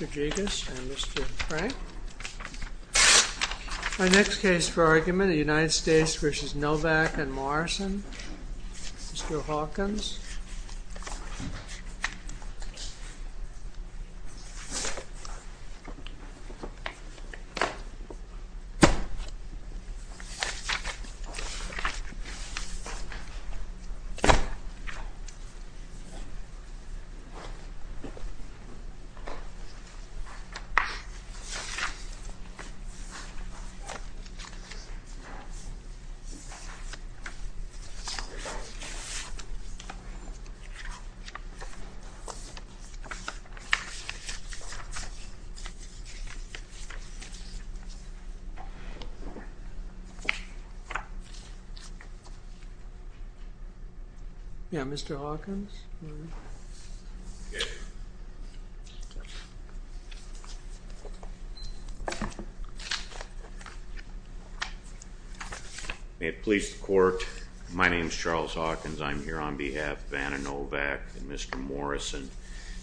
My next case for argument is United States v. Novak and Morrison v. Hawkins Yeah, Mr. Hawkins? May it please the court, my name is Charles Hawkins. I'm here on behalf of Anna Novak and Mr. Morrison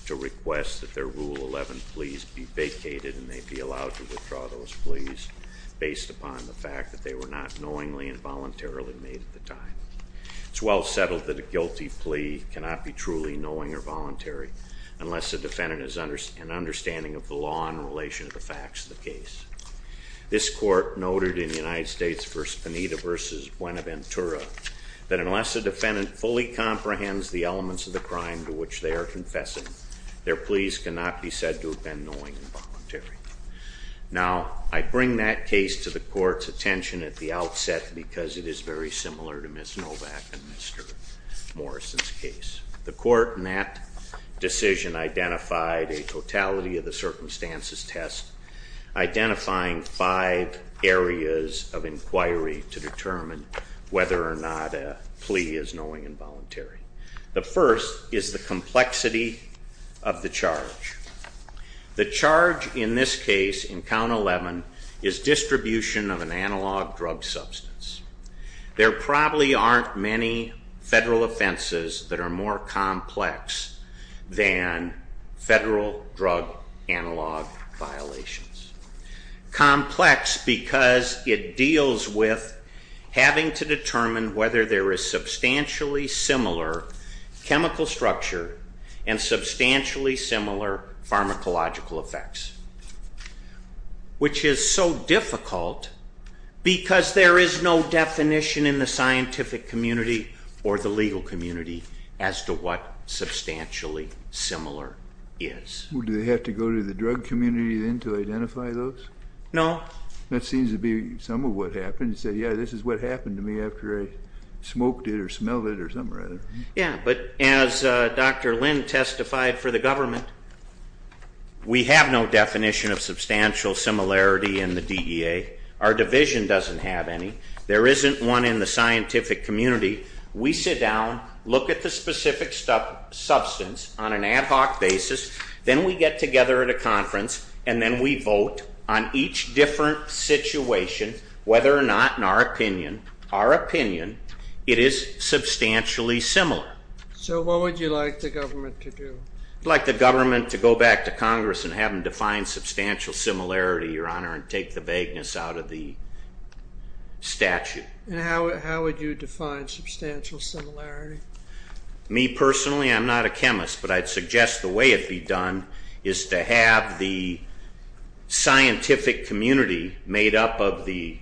to request that their Rule 11 pleas be vacated and they be allowed to withdraw those pleas based upon the fact that they were not knowingly and voluntarily made at the time. It's well settled that a guilty plea cannot be truly knowing or voluntary unless the defendant has an understanding of the law in relation to the facts of the case. This court noted in United States v. Pineda v. Buenaventura that unless the defendant fully comprehends the elements of the crime to which they are confessing, their pleas cannot be said to have been knowing and voluntary. Now, I bring that case to the court's attention at the outset because it is very similar to Ms. Novak and Mr. Morrison's case. The court in that decision identified a totality of the circumstances test, identifying five areas of inquiry to determine whether or not a plea is knowing and voluntary. The first is the complexity of the charge. The charge in this case, in Count 11, is distribution of an analog drug substance. There probably aren't many federal offenses that are more complex than federal drug analog violations. Complex because it deals with having to determine whether there is substantially similar chemical structure and substantially similar pharmacological effects, which is so difficult because there is no definition in the scientific community or the legal community as to what substantially similar is. Do they have to go to the drug community then to identify those? No. That seems to be some of what happened. You said, yeah, this is what happened to me after I smoked it or smelled it or something like that. Yeah, but as Dr. Lynn testified for the government, we have no definition of substantial similarity in the DEA. Our division doesn't have any. There isn't one in the scientific community. We sit down, look at the specific substance on an ad hoc basis, then we get together at a conference, and then we vote on each different situation whether or not, in our opinion, it is substantially similar. So what would you like the government to do? I'd like the government to go back to Congress and have them define substantial similarity, Your Honor, and take the vagueness out of the statute. And how would you define substantial similarity? Me personally, I'm not a chemist, but I'd suggest the way it be done is to have the scientific community made up of the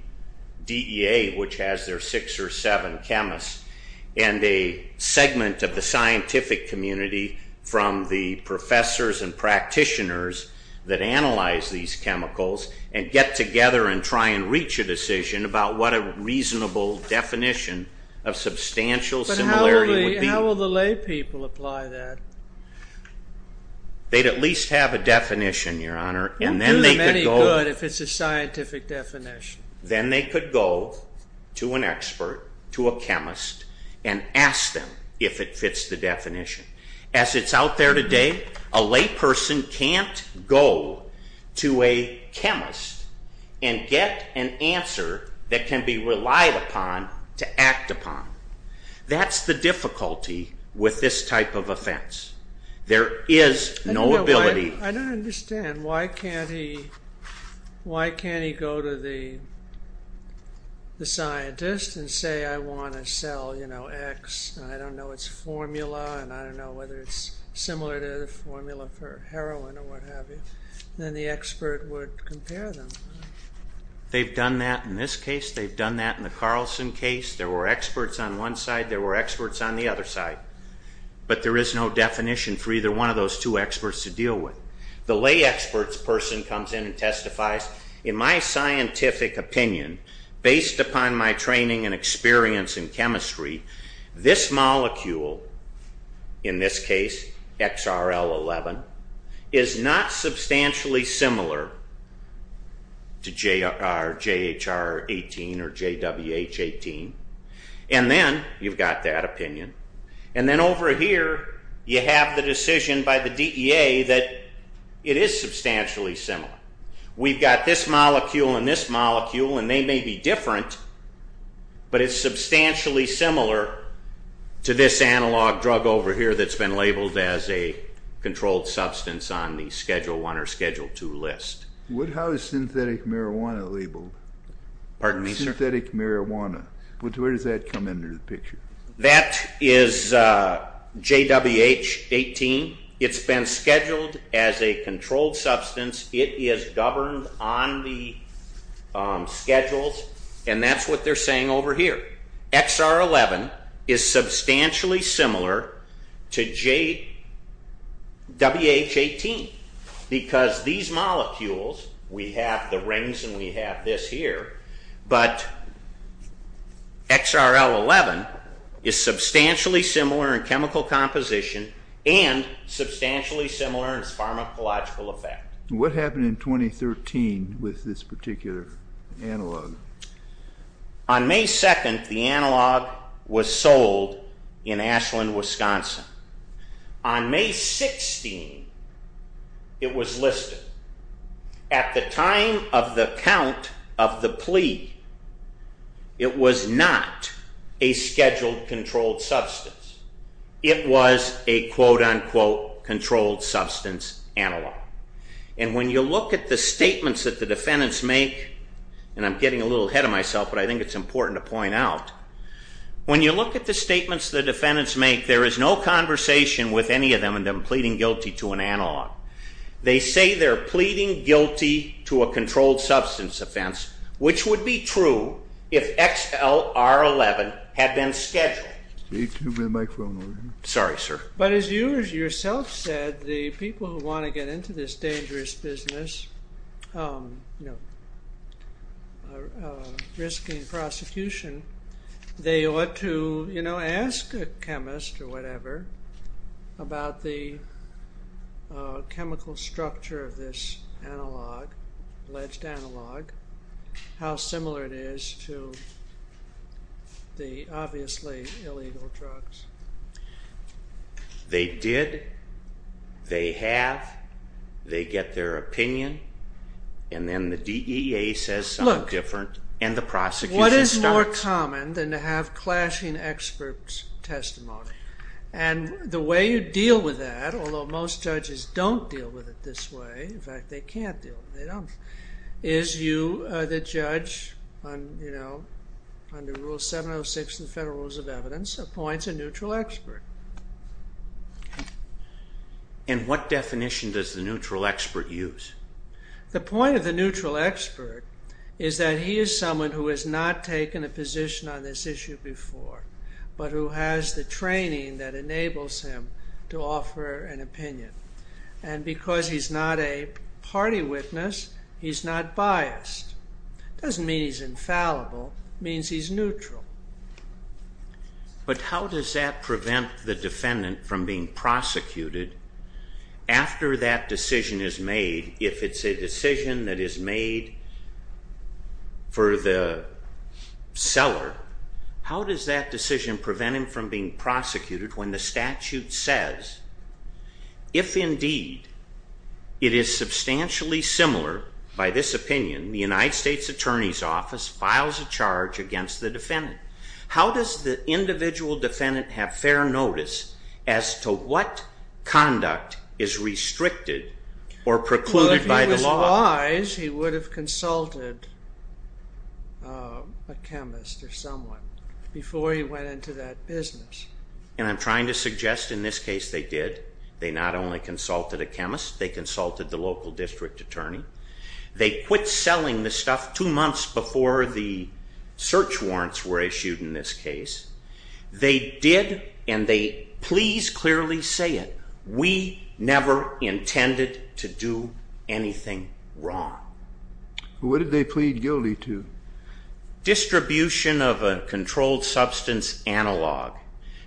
DEA, which has their six or seven chemists, and a segment of the scientific community from the professors and practitioners that analyze these chemicals and get together and try and reach a decision about what a reasonable definition of substantial similarity is. How will the lay people apply that? They'd at least have a definition, Your Honor. And do them any good if it's a scientific definition. Then they could go to an expert, to a chemist, and ask them if it fits the definition. As it's out there today, a lay person can't go to a chemist and get an answer that can be relied upon to act upon. That's the difficulty with this type of offense. There is no ability. I don't understand. Why can't he go to the scientist and say, I want to sell, you know, X, and I don't know its formula, and I don't know whether it's similar to the formula for heroin or what have you. Then the expert would compare them. They've done that in this case. They've done that in the Carlson case. There were experts on one side, there were experts on the other side, but there is no definition for either one of those two experts to deal with. The lay experts person comes in and testifies, in my scientific opinion, based upon my training and experience in chemistry, this molecule, in this case, XRL-11, is not substantially similar to JHR-18 or JWH-18, and then you've got that opinion, and then over here you have the decision by the DEA that it is substantially similar. We've got this molecule and this molecule, and they may be different, but it's substantially similar to this analog drug over here that's been labeled as a controlled substance on the Schedule I or Schedule II list. What, how is synthetic marijuana labeled? Pardon me, sir? Synthetic marijuana. Where does that come into the picture? That is JWH-18. It's been scheduled as a controlled substance. It is governed on the schedules, and that's what they're saying over here. XR-11 is substantially similar to JWH-18 because these molecules, we have the rings and we have this here, but XRL-11 is substantially similar in chemical composition and substantially similar in its pharmacological effect. What happened in 2013 with this particular analog? On May 2nd, the analog was sold in Ashland, Wisconsin. On May 16th, it was listed. At the time of the count of the plea, it was not a scheduled controlled substance. It was a quote-unquote controlled substance analog, and when you look at the statements that the defendants make, and I'm getting a little ahead of myself, but I think it's important to point out, when you look at the statements the defendants make, there is no conversation with any of them in them pleading guilty to an analog. They say they're pleading guilty to a controlled substance offense, which would be true if XLR-11 had been scheduled. Sorry, sir. But as you yourself said, the people who want to get into this dangerous business, risking prosecution, they ought to ask a chemist or whatever about the chemical structure of this analog, alleged analog, how similar it is to the obviously illegal drugs. They did, they have, they get their opinion, and then the DEA says something different, and the prosecution stops. What is more common than to have clashing experts' testimony? And the way you deal with that, although most judges don't deal with it this way, in fact, they can't deal with it, they don't, is you, the judge, under Rule 706 of the Federal Rules of Evidence, appoints a neutral expert. And what definition does the neutral expert use? The point of the neutral expert is that he is someone who has not taken a position on this issue before, but who has the training that enables him to offer an opinion. And because he's not a party witness, he's not biased. It doesn't mean he's infallible, it means he's neutral. But how does that prevent the defendant from being prosecuted after that decision is made, if it's a decision that is made for the seller, how does that decision prevent him from being prosecuted when the statute says, if indeed it is substantially similar by this opinion, the United States Attorney's Office files a charge against the defendant? How does the individual defendant have fair notice as to what conduct is restricted or precluded by the law? Well, if he was wise, he would have consulted a chemist or someone before he went into that business. And I'm trying to suggest in this case they did. They not only consulted a chemist, they consulted the local district attorney. They quit selling the stuff two months before the search warrants were issued in this case. They did, and they please clearly say it, we never intended to do anything wrong. What did they plead guilty to? Distribution of a controlled substance analog,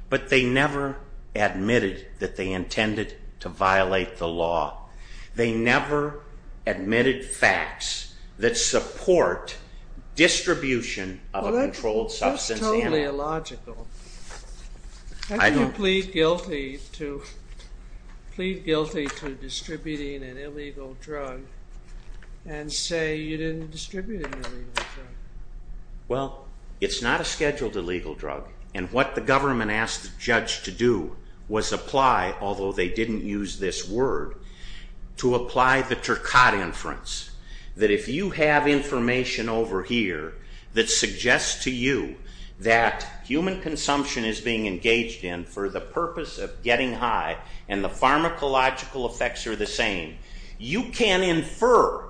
but they never admitted that they intended to violate the law. They never admitted facts that support distribution of a controlled substance analog. That's totally illogical. How can you plead guilty to distributing an illegal drug and say you didn't distribute an illegal drug? Well, it's not a scheduled illegal drug, and what the government asked the judge to do was apply, although they didn't use this word, to apply the Turcotte inference, that if you have information over here that suggests to you that human consumption is being engaged in for the purpose of getting high and the pharmacological effects are the same, you can infer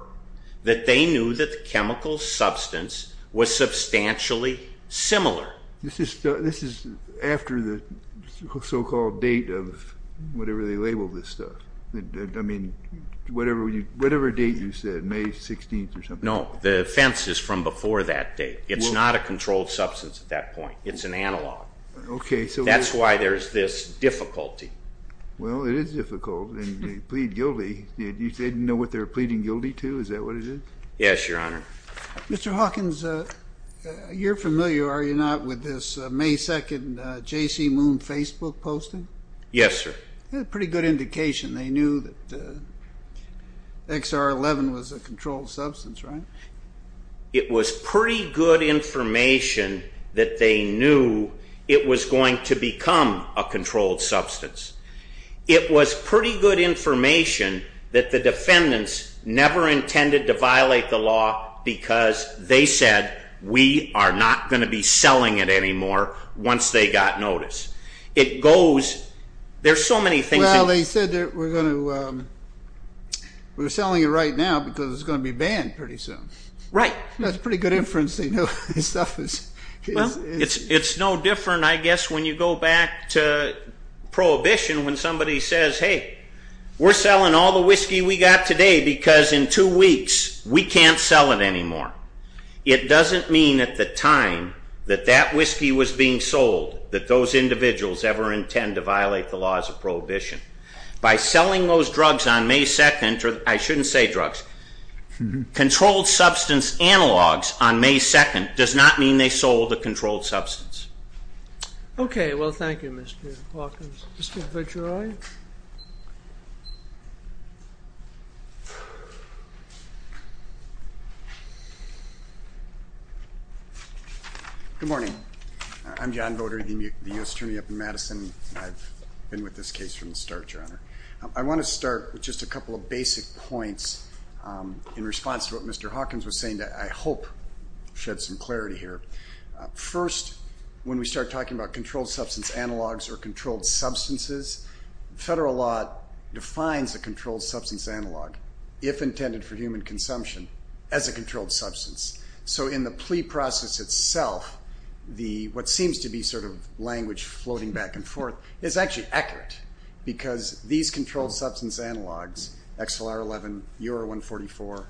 that they knew that the chemical substance was substantially similar. This is after the so-called date of whatever they labeled this stuff. I mean, whatever date you said, May 16th or something. No, the offense is from before that date. It's not a controlled substance at that point. It's an analog. That's why there's this difficulty. Well, it is difficult, and they plead guilty. They didn't know what they were pleading guilty to? Is that what it is? Yes, Your Honor. Mr. Hawkins, you're familiar, are you not, with this May 2nd J.C. Moon Facebook posting? Yes, sir. Pretty good indication. They knew that XR11 was a controlled substance, right? It was pretty good information that they knew it was going to become a controlled substance. It was pretty good information that the defendants never intended to violate the law because they said, we are not going to be selling it anymore once they got notice. It goes, there's so many things. Well, they said we're going to, we're selling it right now because it's going to be banned pretty soon. Right. That's a pretty good inference. It's no different, I guess, when you go back to Prohibition when somebody says, hey, we're selling all the whiskey we got today because in two weeks we can't sell it anymore. It doesn't mean at the time that that whiskey was being sold that those individuals ever intend to violate the laws of Prohibition. By selling those drugs on May 2nd, or I shouldn't say drugs, controlled substance analogs on May 2nd does not mean they sold a controlled substance. Okay. Well, thank you, Mr. Hawkins. Mr. Vajeroy. Good morning. I'm John Voter, the U.S. Attorney up in Madison. I've been with this case from the start, Your Honor. I want to start with just a couple of basic points in response to what Mr. Hawkins was saying that I hope sheds some clarity here. First, when we start talking about controlled substance analogs or controlled substances, federal law defines a controlled substance analog, if intended for human consumption, as a controlled substance. So in the plea process itself, what seems to be sort of language floating back and forth is actually accurate because these controlled substance analogs, XLR-11, UR-144,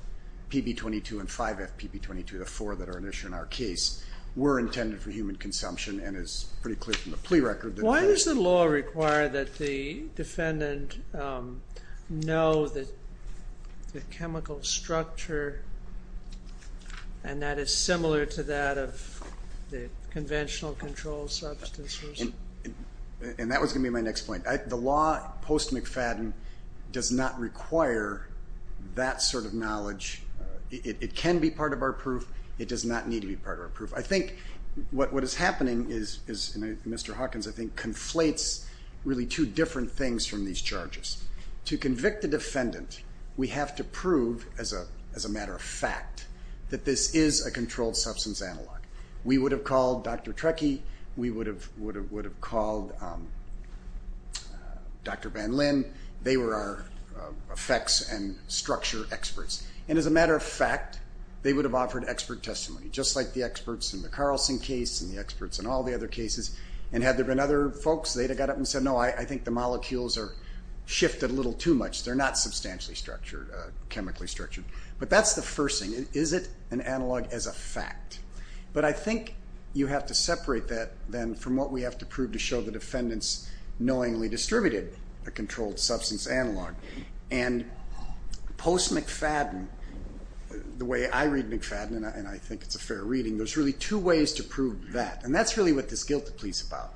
PB-22, and 5F PB-22, the four that are an issue in our case, were intended for human consumption and is pretty clear from the plea record. Why does the law require that the defendant know that the chemical structure, and that is similar to that of the conventional controlled substance? And that was going to be my next point. The law post-McFadden does not require that sort of knowledge. It can be part of our proof. It does not need to be part of our proof. I think what is happening is, and Mr. Hawkins, I think, conflates really two different things from these charges. To convict a defendant, we have to prove, as a matter of fact, that this is a controlled substance analog. We would have called Dr. Trecky. We would have called Dr. Van Lin. They were our effects and structure experts. And as a matter of fact, they would have offered expert testimony, just like the experts in the Carlson case and the experts in all the other cases. And had there been other folks, they'd have got up and said, no, I think the molecules are shifted a little too much. They're not substantially structured, chemically structured. But that's the first thing. Is it an analog as a fact? But I think you have to separate that, then, from what we have to prove to show the defendants knowingly distributed a controlled substance analog. And post-McFadden, the way I read McFadden, and I think it's a fair reading, there's really two ways to prove that. And that's really what this guilty plea is about,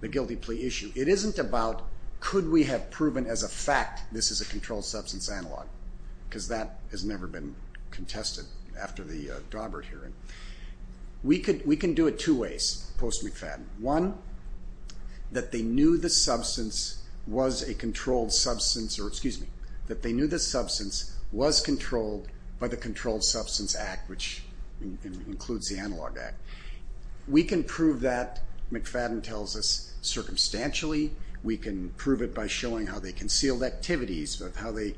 the guilty plea issue. It isn't about could we have proven as a fact this is a controlled substance analog, because that has never been contested after the Daubert hearing. We can do it two ways post-McFadden. One, that they knew the substance was a controlled substance, or excuse me, that they knew the substance was controlled by the Controlled Substance Act, which includes the Analog Act. We can prove that, McFadden tells us, circumstantially. We can prove it by showing how they concealed activities, how they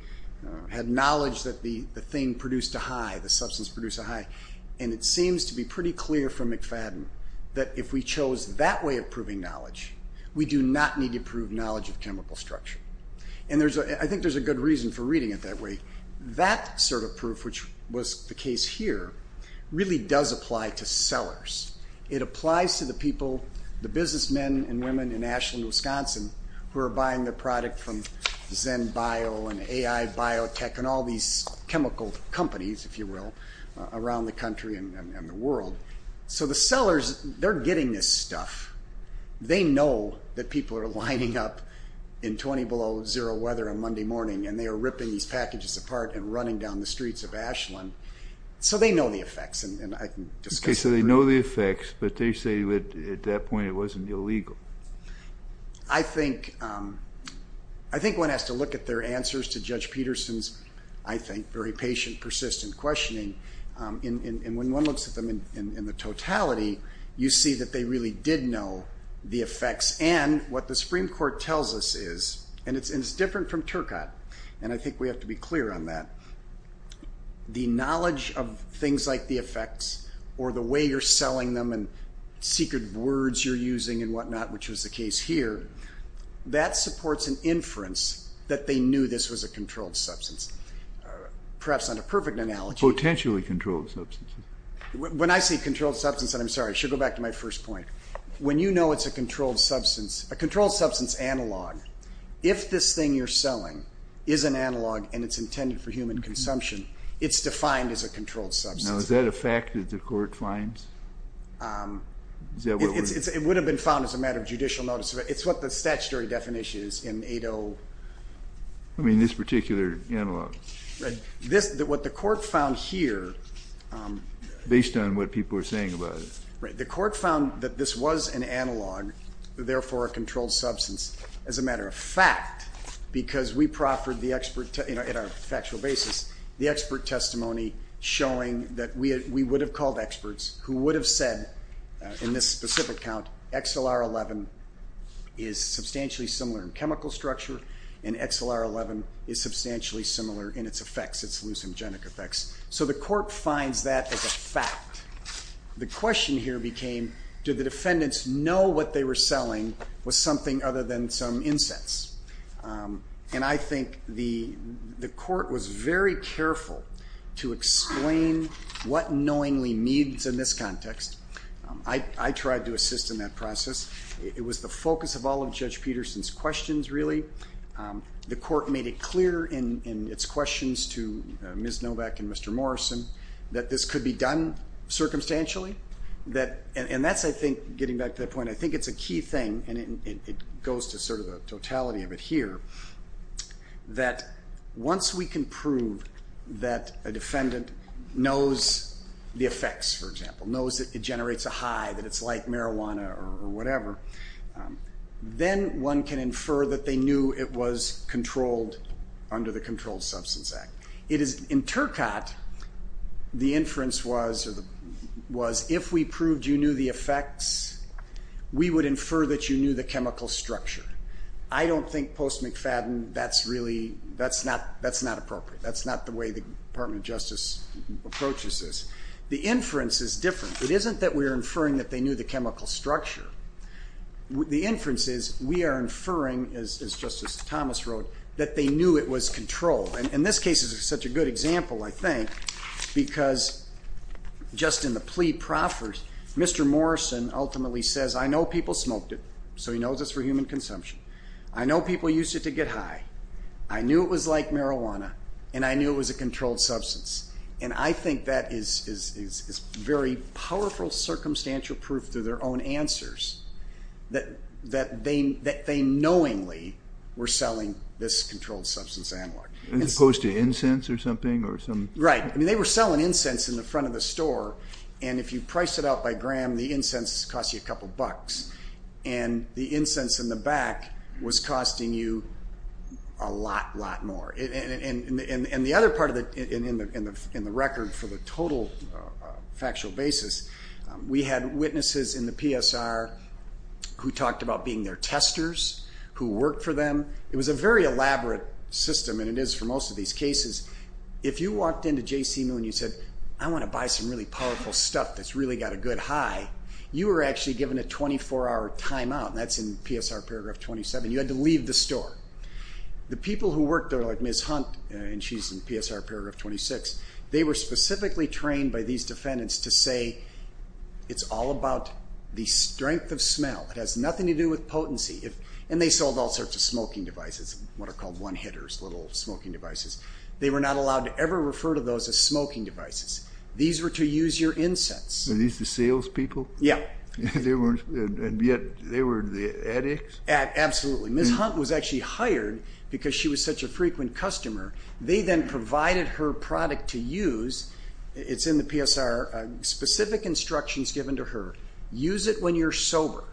had knowledge that the thing produced a high, the substance produced a high. And it seems to be pretty clear from McFadden that if we chose that way of proving knowledge, we do not need to prove knowledge of chemical structure. And I think there's a good reason for reading it that way. That sort of proof, which was the case here, really does apply to sellers. It applies to the people, the businessmen and women in Ashland, Wisconsin, who are buying the product from ZenBio and AI Biotech and all these chemical companies, if you will, around the country and the world. So the sellers, they're getting this stuff. They know that people are lining up in 20 below zero weather on Monday morning, and they are ripping these packages apart and running down the streets of Ashland. So they know the effects. Okay, so they know the effects, but they say at that point it wasn't illegal. I think one has to look at their answers to Judge Peterson's, I think, very patient, persistent questioning. And when one looks at them in the totality, you see that they really did know the effects. And what the Supreme Court tells us is, and it's different from Turcotte, and I think we have to be clear on that, the knowledge of things like the effects or the way you're selling them and secret words you're using and whatnot, which was the case here, that supports an inference that they knew this was a controlled substance. Perhaps not a perfect analogy. Potentially controlled substances. When I say controlled substance, and I'm sorry, I should go back to my first point. When you know it's a controlled substance, a controlled substance analog, if this thing you're selling is an analog and it's intended for human consumption, it's defined as a controlled substance. Now, is that a fact that the court finds? It would have been found as a matter of judicial notice. It's what the statutory definition is in 8-0. I mean this particular analog. What the court found here. Based on what people are saying about it. Right. The court found that this was an analog, therefore a controlled substance, as a matter of fact, because we proffered the expert, in our factual basis, the expert testimony showing that we would have called experts who would have said, in this specific count, XLR-11 is substantially similar in chemical structure and XLR-11 is substantially similar in its effects, its hallucinogenic effects. So the court finds that as a fact. The question here became, did the defendants know what they were selling was something other than some incense? And I think the court was very careful to explain what knowingly means in this context. I tried to assist in that process. It was the focus of all of Judge Peterson's questions, really. The court made it clear in its questions to Ms. Novak and Mr. Morrison that this could be done circumstantially. And that's, I think, getting back to that point, I think it's a key thing, and it goes to sort of the totality of it here, that once we can prove that a defendant knows the effects, for example, knows that it generates a high, that it's like marijuana or whatever, then one can infer that they knew it was controlled under the Controlled Substance Act. In Turcotte, the inference was, if we proved you knew the effects, we would infer that you knew the chemical structure. I don't think post-McFadden that's really, that's not appropriate. That's not the way the Department of Justice approaches this. The inference is different. It isn't that we are inferring that they knew the chemical structure. The inference is we are inferring, as Justice Thomas wrote, that they knew it was controlled. And this case is such a good example, I think, because just in the plea proffered, Mr. Morrison ultimately says, I know people smoked it, so he knows it's for human consumption. I know people used it to get high. I knew it was like marijuana, and I knew it was a controlled substance. And I think that is very powerful circumstantial proof through their own answers that they knowingly were selling this controlled substance analog. As opposed to incense or something? Right. I mean, they were selling incense in the front of the store, and if you price it out by gram, the incense costs you a couple bucks. And the incense in the back was costing you a lot, lot more. And the other part in the record for the total factual basis, we had witnesses in the PSR who talked about being their testers, who worked for them. It was a very elaborate system, and it is for most of these cases. If you walked into J.C. Moon and you said, I want to buy some really powerful stuff that's really got a good high, you were actually given a 24-hour timeout, and that's in PSR Paragraph 27. You had to leave the store. The people who worked there, like Ms. Hunt, and she's in PSR Paragraph 26, they were specifically trained by these defendants to say, it's all about the strength of smell. It has nothing to do with potency. And they sold all sorts of smoking devices, what are called one-hitters, little smoking devices. They were not allowed to ever refer to those as smoking devices. These were to use your incense. Were these the salespeople? Yeah. And yet they were the addicts? Absolutely. Ms. Hunt was actually hired because she was such a frequent customer. They then provided her product to use. It's in the PSR, specific instructions given to her. Use it when you're sober.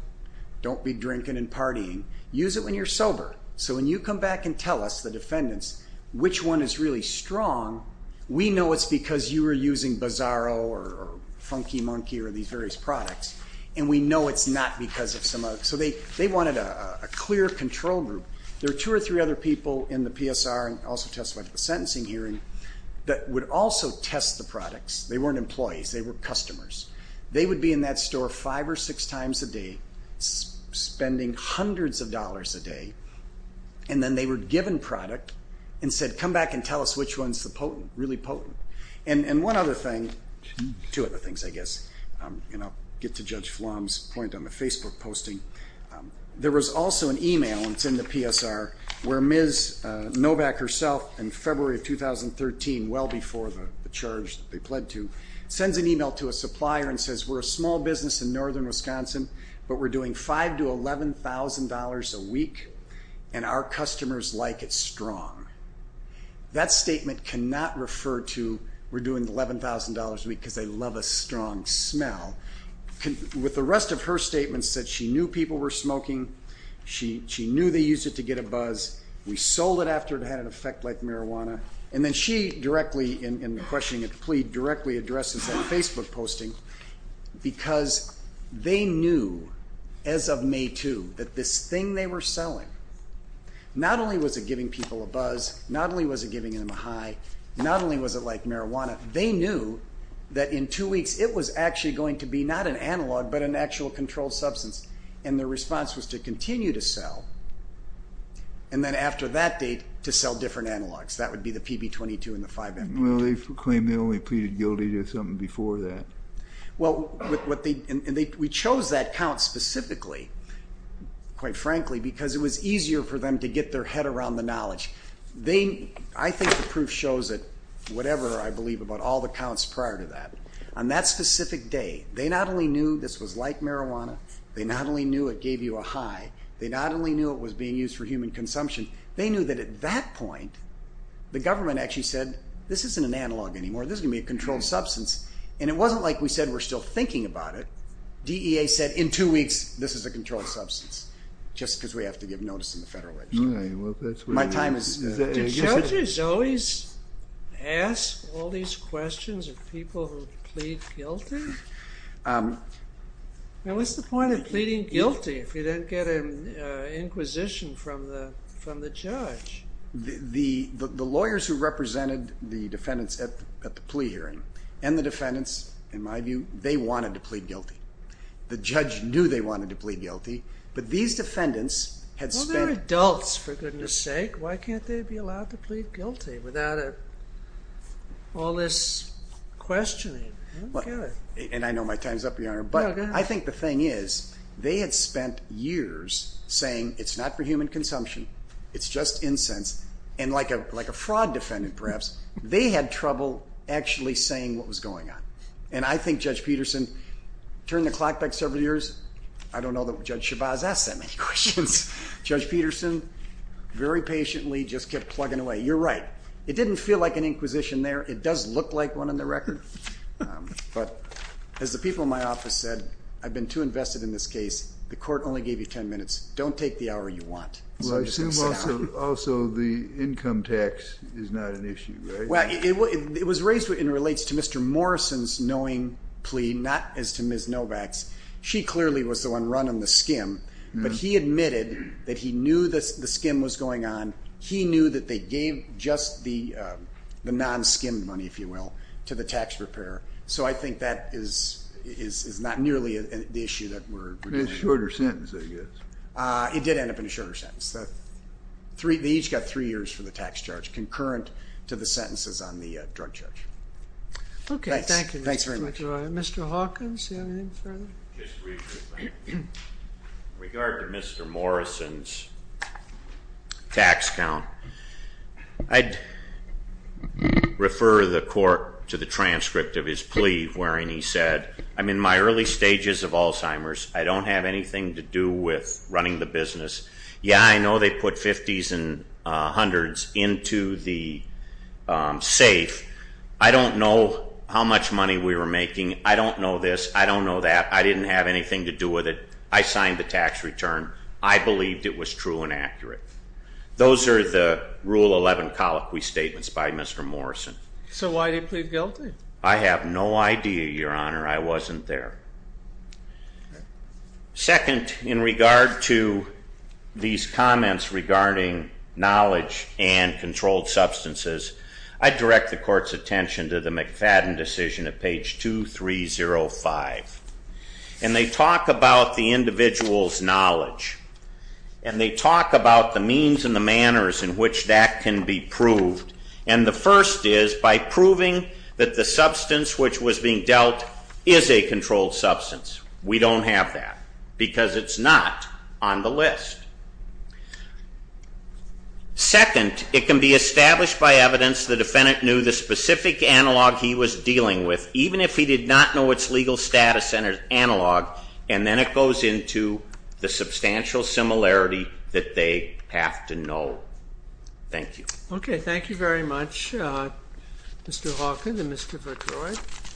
Don't be drinking and partying. Use it when you're sober. So when you come back and tell us, the defendants, which one is really strong, we know it's because you were using Bizarro or Funky Monkey or these various products, and we know it's not because of some other. So they wanted a clear control group. There were two or three other people in the PSR, and also testified at the sentencing hearing, that would also test the products. They weren't employees. They were customers. They would be in that store five or six times a day, spending hundreds of dollars a day. And then they were given product and said, come back and tell us which one's the potent, really potent. And one other thing, two other things, I guess, and I'll get to Judge Flom's point on the Facebook posting. There was also an e-mail, and it's in the PSR, where Ms. Novak herself in February of 2013, well before the charge that they pled to, sends an e-mail to a supplier and says, we're a small business in northern Wisconsin, but we're doing $5,000 to $11,000 a week, and our customers like it strong. That statement cannot refer to we're doing $11,000 a week because they love a strong smell. With the rest of her statements that she knew people were smoking, she knew they used it to get a buzz, we sold it after it had an effect like marijuana, and then she directly, in questioning and plea, directly addresses that Facebook posting because they knew, as of May 2, that this thing they were selling, not only was it giving people a buzz, not only was it giving them a high, not only was it like marijuana, they knew that in two weeks, it was actually going to be not an analog, but an actual controlled substance, and their response was to continue to sell, and then after that date, to sell different analogs. That would be the PB-22 and the 5M-22. Well, they claim they only pleaded guilty to something before that. Well, we chose that count specifically, quite frankly, because it was easier for them to get their head around the knowledge. I think the proof shows that whatever I believe about all the counts prior to that, on that specific day, they not only knew this was like marijuana, they not only knew it gave you a high, they not only knew it was being used for human consumption, they knew that at that point, the government actually said, this isn't an analog anymore, this is going to be a controlled substance, and it wasn't like we said we're still thinking about it. DEA said, in two weeks, this is a controlled substance, just because we have to give notice in the Federal Register. Do judges always ask all these questions of people who plead guilty? What's the point of pleading guilty if you don't get an inquisition from the judge? The lawyers who represented the defendants at the plea hearing and the defendants, in my view, they wanted to plead guilty. The judge knew they wanted to plead guilty, but these defendants had spent... Well, they're adults, for goodness sake. Why can't they be allowed to plead guilty without all this questioning? I don't get it. And I know my time's up, Your Honor, but I think the thing is they had spent years saying it's not for human consumption, it's just incense, and like a fraud defendant, perhaps, they had trouble actually saying what was going on. And I think Judge Peterson turned the clock back several years. I don't know that Judge Shabazz asked that many questions. Judge Peterson very patiently just kept plugging away. You're right. It didn't feel like an inquisition there. It does look like one on the record. But as the people in my office said, I've been too invested in this case. The court only gave you ten minutes. Don't take the hour you want. Well, I assume also the income tax is not an issue, right? Well, it was raised and relates to Mr. Morrison's knowing plea, not as to Ms. Novak's. She clearly was the one running the skim. But he admitted that he knew the skim was going on. He knew that they gave just the non-skim money, if you will, to the tax preparer. So I think that is not nearly the issue that we're dealing with. It's a shorter sentence, I guess. It did end up in a shorter sentence. They each got three years for the tax charge, concurrent to the sentences on the drug charge. Okay, thank you. Thanks very much. Mr. Hawkins, anything further? Just briefly, thank you. In regard to Mr. Morrison's tax count, I'd refer the court to the transcript of his plea, wherein he said, I'm in my early stages of Alzheimer's. I don't have anything to do with running the business. Yeah, I know they put 50s and 100s into the safe. I don't know how much money we were making. I don't know this. I don't know that. I didn't have anything to do with it. I signed the tax return. I believed it was true and accurate. Those are the Rule 11 colloquy statements by Mr. Morrison. So why did he plead guilty? I have no idea, Your Honor. I wasn't there. Second, in regard to these comments regarding knowledge and controlled substances, I direct the court's attention to the McFadden decision at page 2305. And they talk about the individual's knowledge. And they talk about the means and the manners in which that can be proved. And the first is by proving that the substance which was being dealt is a controlled substance. We don't have that, because it's not on the list. Second, it can be established by evidence the defendant knew the specific analog he was dealing with, even if he did not know its legal status and its analog. And then it goes into the substantial similarity that they have to know. Thank you. OK, thank you very much, Mr. Hawkins and Mr. Fitzgerald.